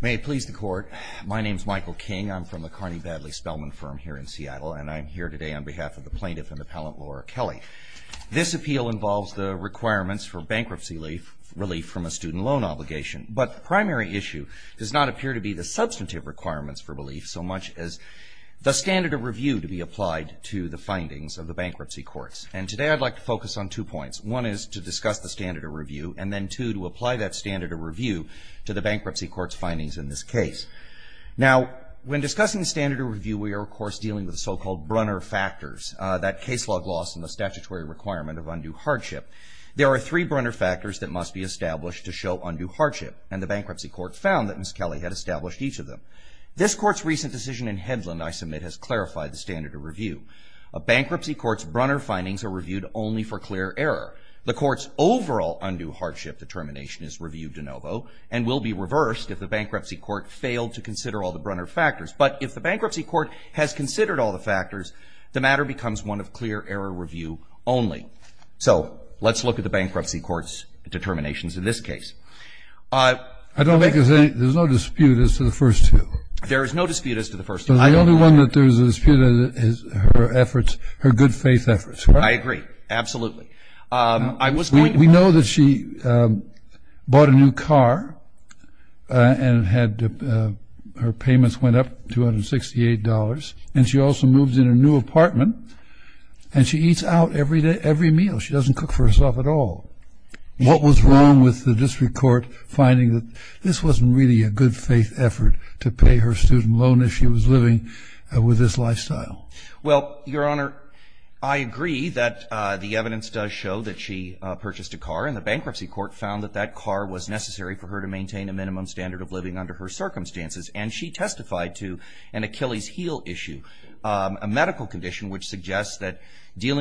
May it please the court. My name is Michael King. I'm from the Carney-Badley Spellman firm here in Seattle, and I'm here today on behalf of the plaintiff and appellant Laura Kelly. This appeal involves the requirements for bankruptcy relief from a student loan obligation, but the primary issue does not appear to be the substantive requirements for relief, so much as the standard of review to be applied to the findings of the bankruptcy courts. And today I'd like to focus on two points. One is to discuss the standard of review, and then two, to apply that standard of review to the bankruptcy court's findings in this case. Now, when discussing standard of review, we are, of course, dealing with so-called Brunner factors, that case log loss and the statutory requirement of undue hardship. There are three Brunner factors that must be established to show undue hardship, and the bankruptcy court found that Ms. Kelly had established each of them. This Court's recent decision in Hedlund, I submit, has clarified the standard of review. A bankruptcy court's Brunner findings are reviewed only for clear error. The Court's overall undue hardship determination is reviewed de novo and will be reversed if the bankruptcy court failed to consider all the Brunner factors. But if the bankruptcy court has considered all the factors, the matter becomes one of clear error review only. So let's look at the bankruptcy court's determinations in this case. I don't think there's any – there's no dispute as to the first two. There is no dispute as to the first two. The only one that there's a dispute is her efforts, her good-faith efforts. I agree. Absolutely. We know that she bought a new car and had her payments went up, $268, and she also moves in a new apartment, and she eats out every meal. She doesn't cook for herself at all. What was wrong with the district court finding that this wasn't really a good-faith effort to pay her student loan as she was living with this lifestyle? Well, Your Honor, I agree that the evidence does show that she purchased a car, and the bankruptcy court found that that car was necessary for her to maintain a minimum standard of living under her circumstances. And she testified to an Achilles heel issue, a medical condition which suggests that she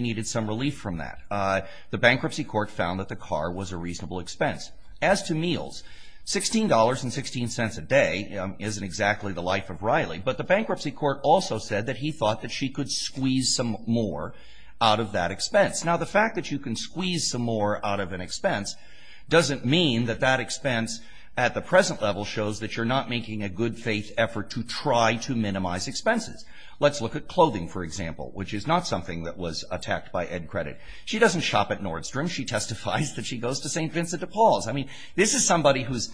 needed some relief from that. The bankruptcy court found that the car was a reasonable expense. As to meals, $16.16 a day isn't exactly the life of Riley, but the bankruptcy court also said that he thought that she could squeeze some more out of that expense. Now, the fact that you can squeeze some more out of an expense doesn't mean that that expense at the present level shows that you're not making a good-faith effort to try to minimize expenses. Let's look at clothing, for example, which is not something that was attacked by Ed Credit. She doesn't shop at Nordstrom. She testifies that she goes to St. Vincent de Paul's. I mean, this is somebody whose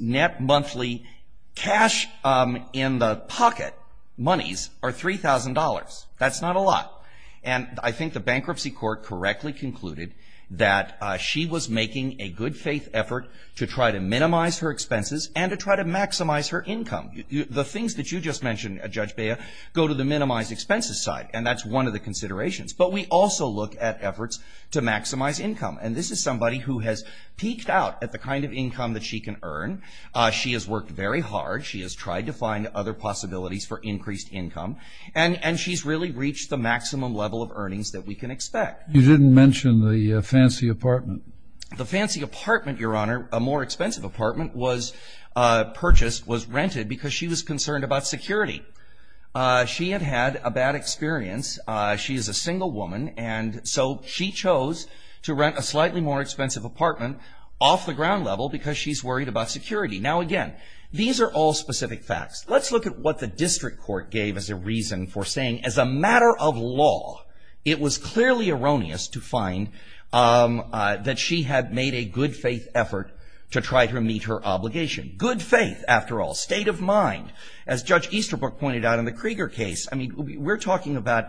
net monthly cash in the pocket monies are $3,000. That's not a lot. And I think the bankruptcy court correctly concluded that she was making a good-faith effort to try to minimize her expenses and to try to maximize her income. The things that you just mentioned, Judge Bea, go to the minimized expenses side, and that's one of the considerations. But we also look at efforts to maximize income. And this is somebody who has peeked out at the kind of income that she can earn. She has worked very hard. She has tried to find other possibilities for increased income. And she's really reached the maximum level of earnings that we can expect. You didn't mention the fancy apartment. The fancy apartment, Your Honor, a more expensive apartment, was purchased, was rented because she was concerned about security. She had had a bad experience. She is a single woman. And so she chose to rent a slightly more expensive apartment off the ground level because she's worried about security. Now, again, these are all specific facts. Let's look at what the district court gave as a reason for saying, as a matter of law, it was clearly erroneous to find that she had made a good-faith effort to try to meet her obligation. Good faith, after all, state of mind, as Judge Easterbrook pointed out in the Krieger case. I mean, we're talking about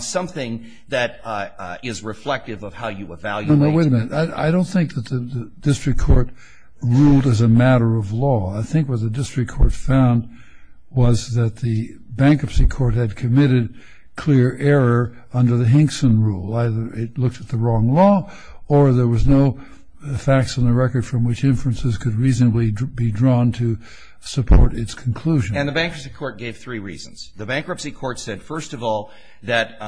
something that is reflective of how you evaluate. No, no, wait a minute. I don't think that the district court ruled as a matter of law. I think what the district court found was that the bankruptcy court had committed clear error under the Hinkson rule. Either it looked at the wrong law or there was no facts on the record from which inferences could reasonably be drawn to support its conclusion. And the bankruptcy court gave three reasons. The bankruptcy court said, first of all, that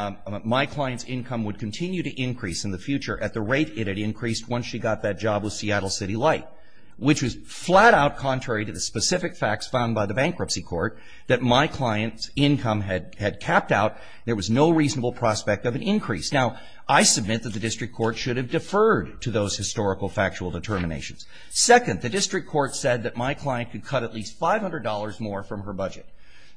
my client's income would continue to increase in the future at the rate it had increased once she got that job with Seattle City Light, which was flat-out contrary to the specific facts found by the bankruptcy court that my client's income had capped out. There was no reasonable prospect of an increase. Now, I submit that the district court should have deferred to those historical factual determinations. Second, the district court said that my client could cut at least $500 more from her budget.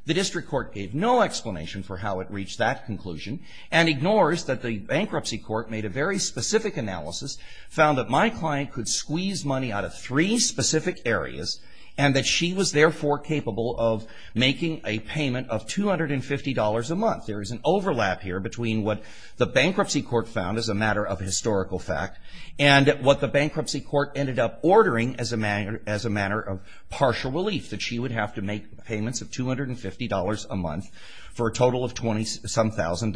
The district court gave no explanation for how it reached that conclusion and ignores that the bankruptcy court made a very specific analysis, found that my client could squeeze money out of three specific areas, and that she was therefore capable of making a payment of $250 a month. There is an overlap here between what the bankruptcy court found as a matter of historical fact and what the bankruptcy court ended up ordering as a manner of partial relief, that she would have to make payments of $250 a month for a total of $20-some-thousand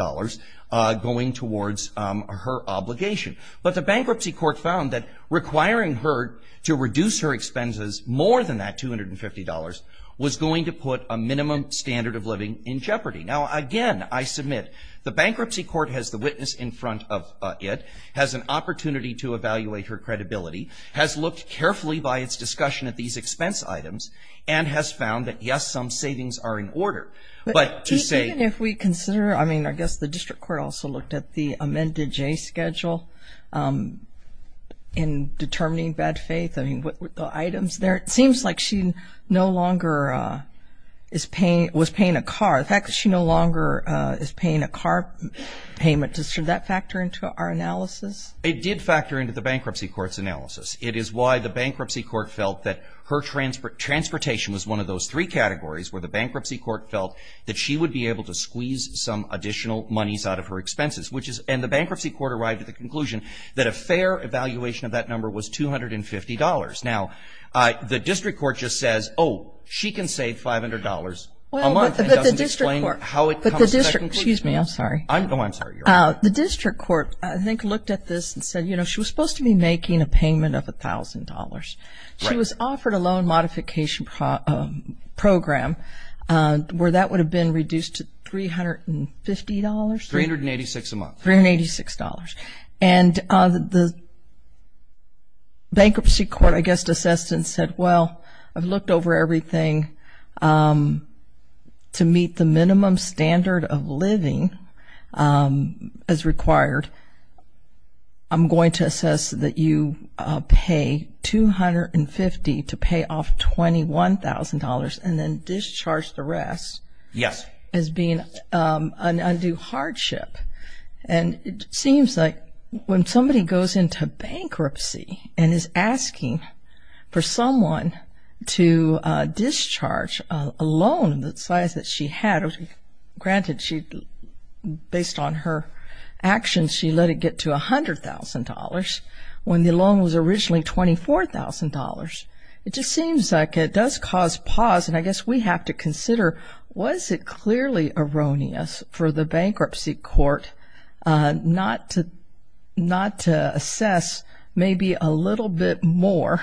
going towards her obligation. But the bankruptcy court found that requiring her to reduce her expenses more than that $250 was going to put a minimum standard of living in jeopardy. Now, again, I submit the bankruptcy court has the witness in front of it, has an opportunity to evaluate her credibility, has looked carefully by its discussion at these expense items, and has found that, yes, some savings are in order. But to say – Even if we consider, I mean, I guess the district court also looked at the amended J schedule in determining bad faith, I mean, the items there. It seems like she no longer is paying – was paying a car. The fact that she no longer is paying a car payment, does that factor into our analysis? It did factor into the bankruptcy court's analysis. It is why the bankruptcy court felt that her transportation was one of those three categories where the bankruptcy court felt that she would be able to squeeze some additional monies out of her expenses, which is – and the bankruptcy court arrived at the conclusion that a fair evaluation of that number was $250. Now, the district court just says, oh, she can save $500 a month and doesn't explain how it comes to that conclusion. Excuse me, I'm sorry. Oh, I'm sorry. The district court, I think, looked at this and said, you know, she was supposed to be making a payment of $1,000. She was offered a loan modification program where that would have been reduced to $350. $386 a month. $386. And the bankruptcy court, I guess, assessed and said, well, I've looked over everything to meet the minimum standard of living as required. I'm going to assess that you pay $250 to pay off $21,000 and then discharge the rest as being an undue hardship. And it seems like when somebody goes into bankruptcy and is asking for someone to discharge a loan the size that she had, granted based on her actions she let it get to $100,000 when the loan was originally $24,000, it just seems like it does cause pause. And I guess we have to consider, was it clearly erroneous for the bankruptcy court not to assess maybe a little bit more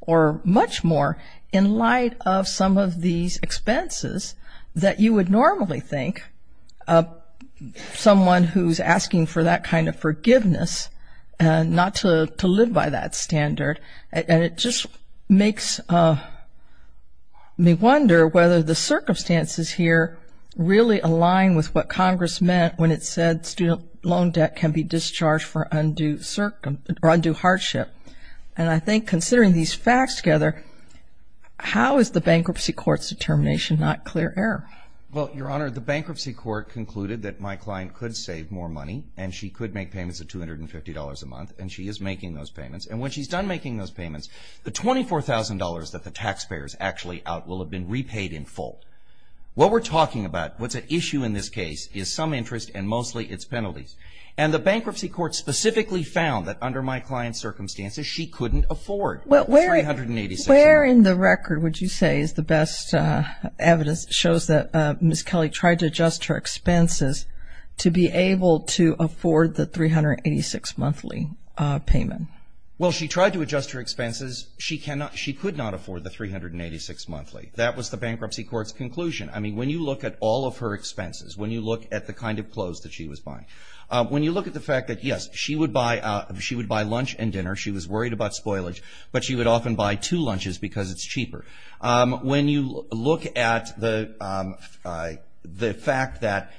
or much more in light of some of these expenses that you would normally think someone who's asking for that kind of forgiveness not to live by that standard. And it just makes me wonder whether the circumstances here really align with what Congress meant when it said student loan debt can be discharged for undue hardship. And I think considering these facts together, how is the bankruptcy court's determination not clear error? Well, Your Honor, the bankruptcy court concluded that my client could save more money and she could make payments of $250 a month, and she is making those payments. And when she's done making those payments, the $24,000 that the taxpayer is actually out will have been repaid in full. What we're talking about, what's at issue in this case, is some interest and mostly its penalties. And the bankruptcy court specifically found that under my client's circumstances, she couldn't afford the $386 a month. Where in the record would you say is the best evidence that shows that Ms. Kelly tried to adjust her expenses to be able to afford the $386 monthly payment? Well, she tried to adjust her expenses. She could not afford the $386 monthly. That was the bankruptcy court's conclusion. I mean, when you look at all of her expenses, when you look at the kind of clothes that she was buying, when you look at the fact that, yes, she would buy lunch and dinner, she was worried about spoilage, but she would often buy two lunches because it's cheaper. When you look at the fact that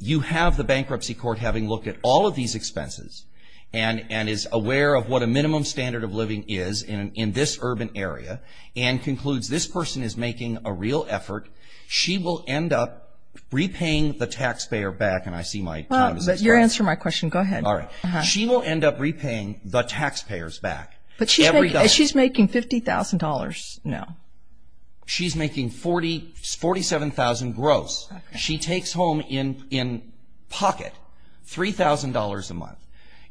you have the bankruptcy court having looked at all of these expenses and is aware of what a minimum standard of living is in this urban area and concludes this person is making a real effort, she will end up repaying the taxpayer back. And I see my time is up. Well, but you're answering my question. Go ahead. All right. She will end up repaying the taxpayers back. But she's making $50,000 now. She's making $47,000 gross. She takes home in pocket $3,000 a month.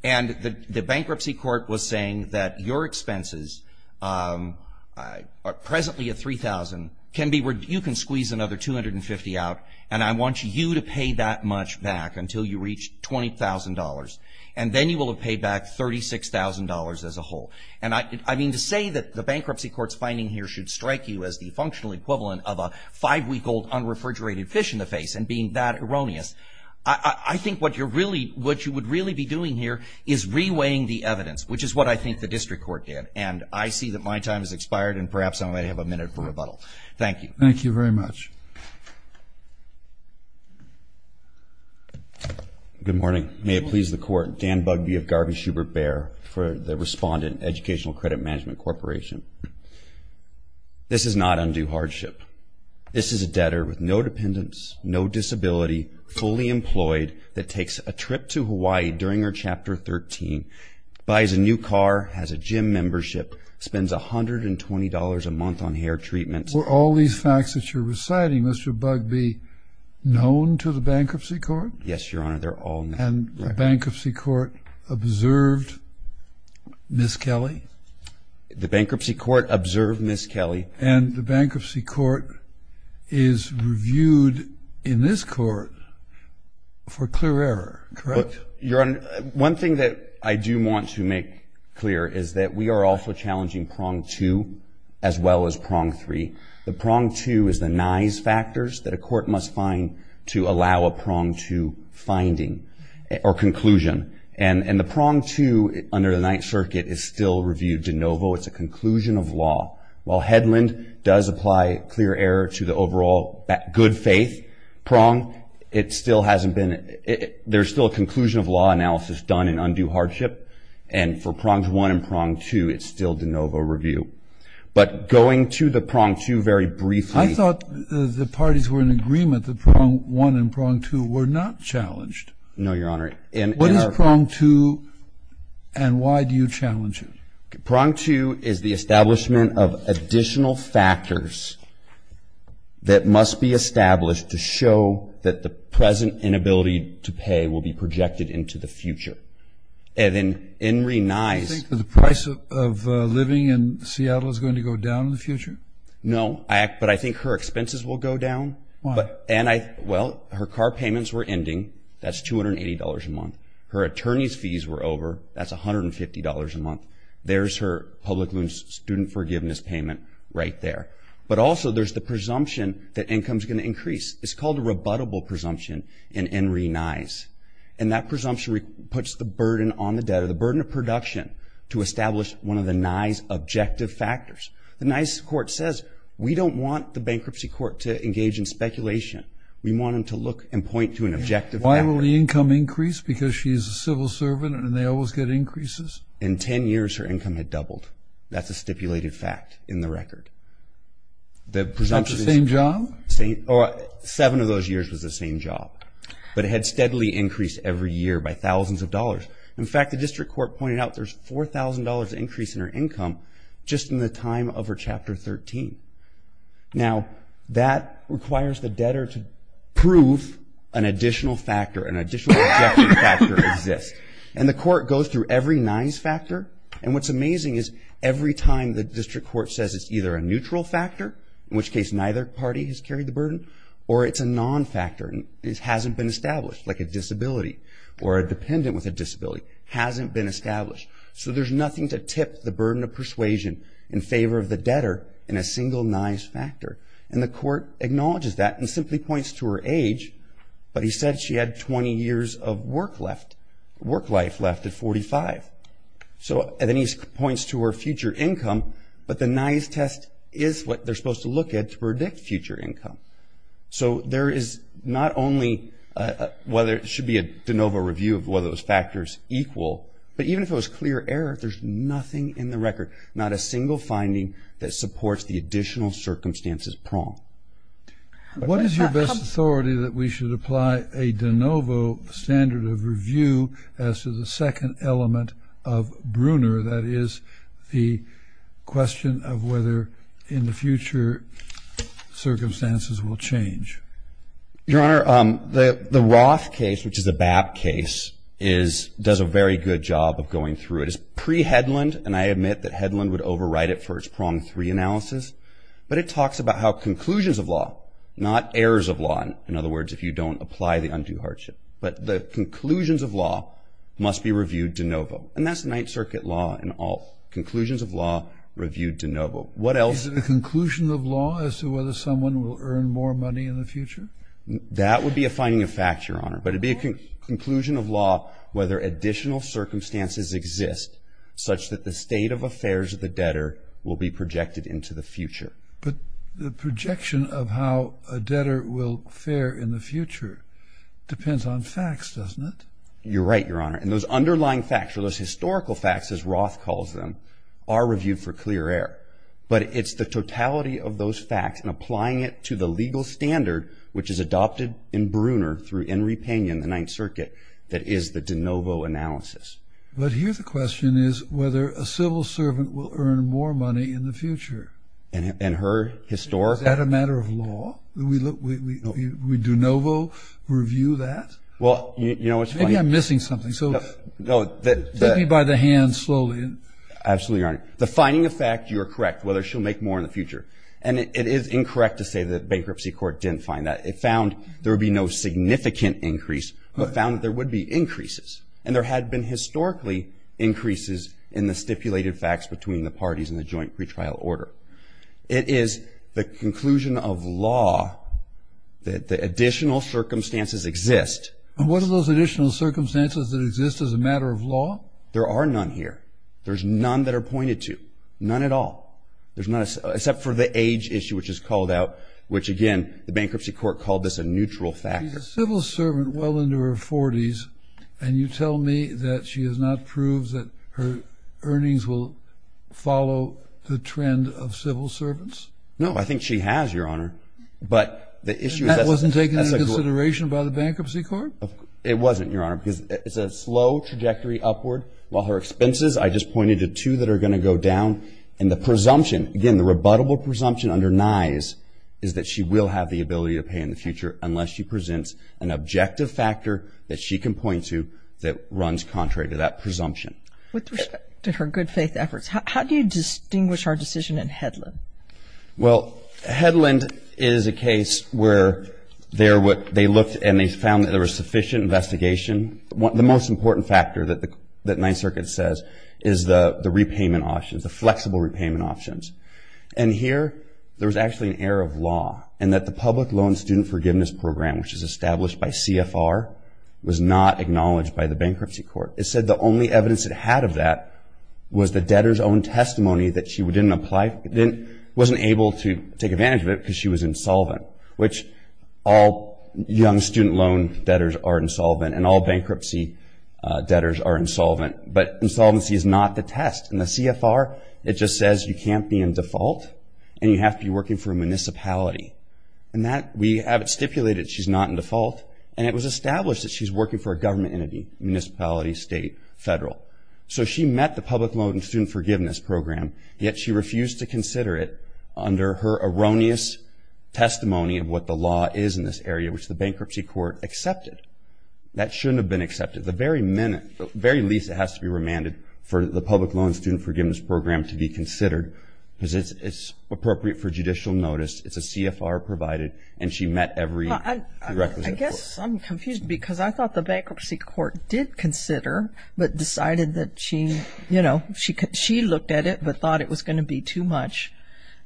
And the bankruptcy court was saying that your expenses, presently at $3,000, can be where you can squeeze another $250 out, and I want you to pay that much back until you reach $20,000. And then you will have paid back $36,000 as a whole. And I mean to say that the bankruptcy court's finding here should strike you as the functional equivalent of a five-week-old unrefrigerated fish in the face and being that erroneous, I think what you would really be doing here is reweighing the evidence, which is what I think the district court did. And I see that my time has expired, and perhaps I might have a minute for rebuttal. Thank you. Thank you very much. Good morning. May it please the Court. Dan Bugbee of Garvey-Schubert-Bear for the respondent, Educational Credit Management Corporation. This is not undue hardship. This is a debtor with no dependents, no disability, fully employed, that takes a trip to Hawaii during her Chapter 13, buys a new car, has a gym membership, spends $120 a month on hair treatment. Were all these facts that you're reciting, Mr. Bugbee, known to the bankruptcy court? Yes, Your Honor, they're all known. And the bankruptcy court observed Ms. Kelly? The bankruptcy court observed Ms. Kelly. And the bankruptcy court is reviewed in this court for clear error, correct? Your Honor, one thing that I do want to make clear is that we are also challenging Prong 2 as well as Prong 3. The Prong 2 is the nays factors that a court must find to allow a Prong 2 finding or conclusion. And the Prong 2 under the Ninth Circuit is still reviewed de novo. It's a conclusion of law. While Hedlund does apply clear error to the overall good faith Prong, there's still a conclusion of law analysis done in undue hardship. And for Prongs 1 and Prong 2, it's still de novo review. But going to the Prong 2 very briefly. I thought the parties were in agreement that Prong 1 and Prong 2 were not challenged. No, Your Honor. What is Prong 2 and why do you challenge it? Prong 2 is the establishment of additional factors that must be established to show that the present inability to pay will be projected into the future. And then Enri Nyes. Do you think the price of living in Seattle is going to go down in the future? No, but I think her expenses will go down. Why? Well, her car payments were ending. That's $280 a month. Her attorney's fees were over. That's $150 a month. There's her public student forgiveness payment right there. But also there's the presumption that income is going to increase. It's called a rebuttable presumption in Enri Nyes. And that presumption puts the burden on the debtor, the burden of production to establish one of the Nyes' objective factors. The Nyes court says we don't want the bankruptcy court to engage in speculation. We want them to look and point to an objective. Why will the income increase? Because she's a civil servant and they always get increases? In 10 years her income had doubled. That's a stipulated fact in the record. That's the same job? Seven of those years was the same job. But it had steadily increased every year by thousands of dollars. In fact, the district court pointed out there's $4,000 increase in her income just in the time of her Chapter 13. Now, that requires the debtor to prove an additional factor, an additional objective factor exists. And the court goes through every Nyes factor. And what's amazing is every time the district court says it's either a neutral factor, in which case neither party has carried the burden, or it's a non-factor and it hasn't been established, like a disability or a dependent with a disability hasn't been established. So there's nothing to tip the burden of persuasion in favor of the debtor in a single Nyes factor. And the court acknowledges that and simply points to her age, but he said she had 20 years of work life left at 45. So then he points to her future income, but the Nyes test is what they're supposed to look at to predict future income. So there is not only whether it should be a de novo review of whether those factors equal, but even if it was clear error, there's nothing in the record, not a single finding that supports the additional circumstances prong. What is your best authority that we should apply a de novo standard of review as to the second element of Bruner, that is the question of whether in the future circumstances will change? Your Honor, the Roth case, which is a BAP case, does a very good job of going through it. It's pre-Hedlund, and I admit that Hedlund would overwrite it for its prong three analysis, but it talks about how conclusions of law, not errors of law, in other words if you don't apply the undue hardship, but the conclusions of law must be reviewed de novo. And that's the Ninth Circuit law in all conclusions of law reviewed de novo. What else? Is it a conclusion of law as to whether someone will earn more money in the future? That would be a finding of fact, Your Honor, but it would be a conclusion of law whether additional circumstances exist such that the state of affairs of the debtor will be projected into the future. But the projection of how a debtor will fare in the future depends on facts, doesn't it? You're right, Your Honor. And those underlying facts or those historical facts, as Roth calls them, are reviewed for clear error. But it's the totality of those facts and applying it to the legal standard, which is adopted in Bruner through Henry Panyon, the Ninth Circuit, that is the de novo analysis. But here the question is whether a civil servant will earn more money in the future. And her historic? Is that a matter of law? Do we de novo review that? Well, you know, it's funny. I think I'm missing something, so take me by the hand slowly. Absolutely, Your Honor. The finding of fact, you're correct, whether she'll make more in the future. And it is incorrect to say that bankruptcy court didn't find that. It found there would be no significant increase but found that there would be increases. And there had been historically increases in the stipulated facts between the parties in the joint pretrial order. It is the conclusion of law that the additional circumstances exist. And what are those additional circumstances that exist as a matter of law? There are none here. There's none that are pointed to. None at all. There's none, except for the age issue, which is called out, which again the bankruptcy court called this a neutral factor. She's a civil servant well into her 40s, and you tell me that she has not proved that her earnings will follow the trend of civil servants? No, I think she has, Your Honor. And that wasn't taken into consideration by the bankruptcy court? It wasn't, Your Honor, because it's a slow trajectory upward. While her expenses, I just pointed to two that are going to go down. And the presumption, again, the rebuttable presumption under Nye's is that she will have the ability to pay in the future unless she presents an objective factor that she can point to that runs contrary to that presumption. With respect to her good faith efforts, how do you distinguish her decision in Hedlund? Well, Hedlund is a case where they looked and they found that there was sufficient investigation. The most important factor that Nye Circuit says is the repayment options, the flexible repayment options. And here, there was actually an error of law in that the public loan student forgiveness program, which is established by CFR, was not acknowledged by the bankruptcy court. It said the only evidence it had of that was the debtor's own testimony that she didn't apply, wasn't able to take advantage of it because she was insolvent, which all young student loan debtors are insolvent and all bankruptcy debtors are insolvent. But insolvency is not the test. In the CFR, it just says you can't be in default and you have to be working for a municipality. And that, we have it stipulated she's not in default. And it was established that she's working for a government entity, municipality, state, federal. So she met the public loan student forgiveness program, yet she refused to consider it under her erroneous testimony of what the law is in this area, which the bankruptcy court accepted. That shouldn't have been accepted. At the very minute, at the very least, it has to be remanded for the public loan student forgiveness program to be considered because it's appropriate for judicial notice, it's a CFR provided, and she met every requisite. I guess I'm confused because I thought the bankruptcy court did consider, but decided that she, you know, she looked at it but thought it was going to be too much.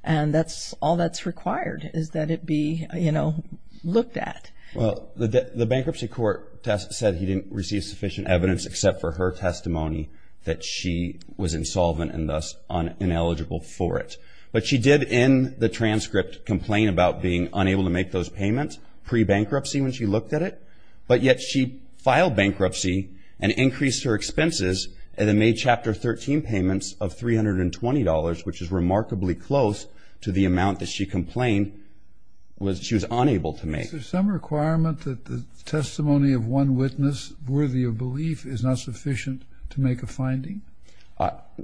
And that's all that's required is that it be, you know, looked at. Well, the bankruptcy court said he didn't receive sufficient evidence except for her testimony that she was insolvent and thus ineligible for it. But she did in the transcript complain about being unable to make those payments pre-bankruptcy when she looked at it. But yet she filed bankruptcy and increased her expenses and then made Chapter 13 payments of $320, which is remarkably close to the amount that she complained she was unable to make. Is there some requirement that the testimony of one witness worthy of belief is not sufficient to make a finding?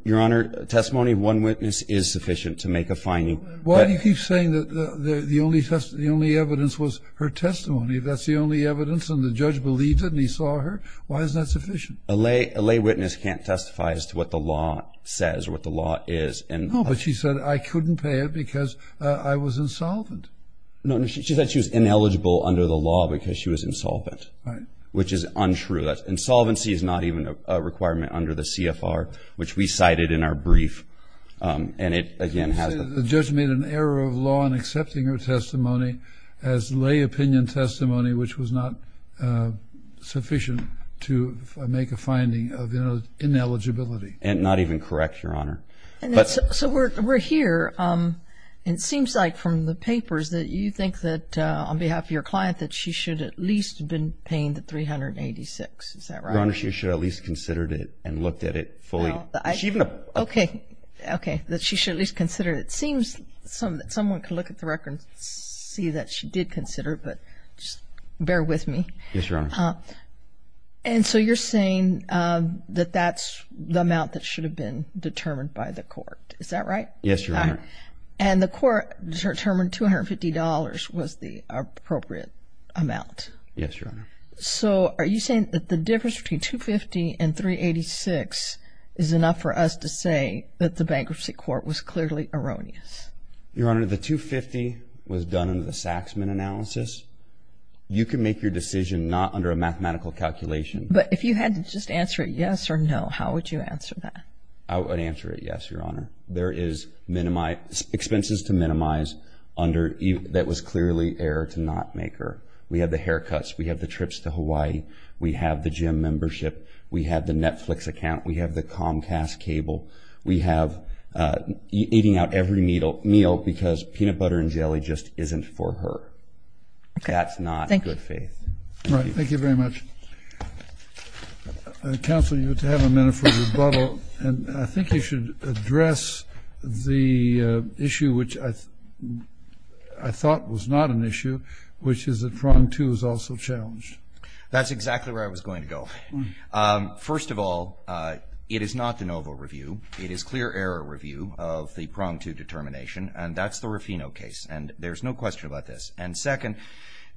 Your Honor, testimony of one witness is sufficient to make a finding. Why do you keep saying that the only evidence was her testimony? That's the only evidence and the judge believed it and he saw her? Why isn't that sufficient? A lay witness can't testify as to what the law says or what the law is. No, but she said I couldn't pay it because I was insolvent. No, she said she was ineligible under the law because she was insolvent. Right. Which is untrue. Insolvency is not even a requirement under the CFR, which we cited in our brief. And it, again, has the The judge made an error of law in accepting her testimony as lay opinion testimony, which was not sufficient to make a finding of ineligibility. And not even correct, Your Honor. So we're here. Your Honor, she said that she should at least have been paying the $386, is that right? Your Honor, she should have at least considered it and looked at it fully. Okay, okay, that she should at least consider it. It seems that someone can look at the record and see that she did consider it, but just bear with me. Yes, Your Honor. And so you're saying that that's the amount that should have been determined by the court, is that right? Yes, Your Honor. And the court determined $250 was the appropriate amount. Yes, Your Honor. So are you saying that the difference between $250 and $386 is enough for us to say that the bankruptcy court was clearly erroneous? Your Honor, the $250 was done under the Saxman analysis. You can make your decision not under a mathematical calculation. But if you had to just answer yes or no, how would you answer that? I would answer it yes, Your Honor. There is expenses to minimize that was clearly error to not make her. We have the haircuts. We have the trips to Hawaii. We have the gym membership. We have the Netflix account. We have the Comcast cable. We have eating out every meal because peanut butter and jelly just isn't for her. That's not good faith. All right, thank you very much. Counsel, you have to have a minute for rebuttal. And I think you should address the issue, which I thought was not an issue, which is that prong two is also challenged. That's exactly where I was going to go. First of all, it is not de novo review. It is clear error review of the prong two determination, and that's the Rufino case. And there's no question about this. And second,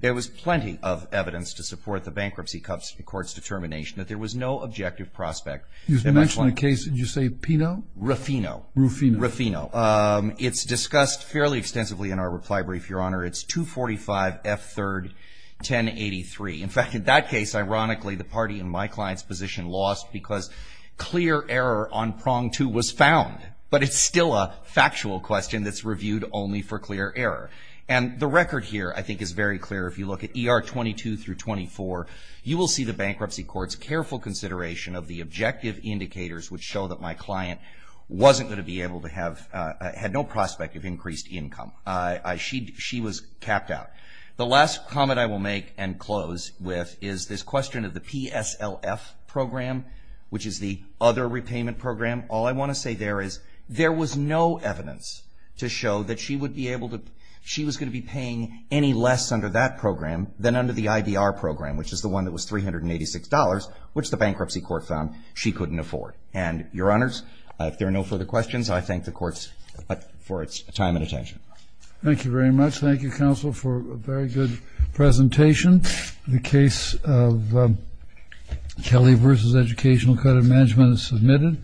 there was plenty of evidence to support the bankruptcy court's determination that there was no objective prospect. You mentioned a case. Did you say Pino? Rufino. Rufino. Rufino. It's discussed fairly extensively in our reply brief, Your Honor. It's 245F31083. In fact, in that case, ironically, the party in my client's position lost because clear error on prong two was found. But it's still a factual question that's reviewed only for clear error. And the record here, I think, is very clear. If you look at ER 22 through 24, you will see the bankruptcy court's careful consideration of the objective indicators which show that my client wasn't going to be able to have no prospect of increased income. She was capped out. The last comment I will make and close with is this question of the PSLF program, which is the other repayment program. All I want to say there is there was no evidence to show that she would be able to be paying any less under that program than under the IDR program, which is the one that was $386, which the bankruptcy court found she couldn't afford. And, Your Honors, if there are no further questions, I thank the courts for its time and attention. Thank you very much. Thank you, counsel, for a very good presentation. The case of Kelly v. Educational Credit Management is submitted.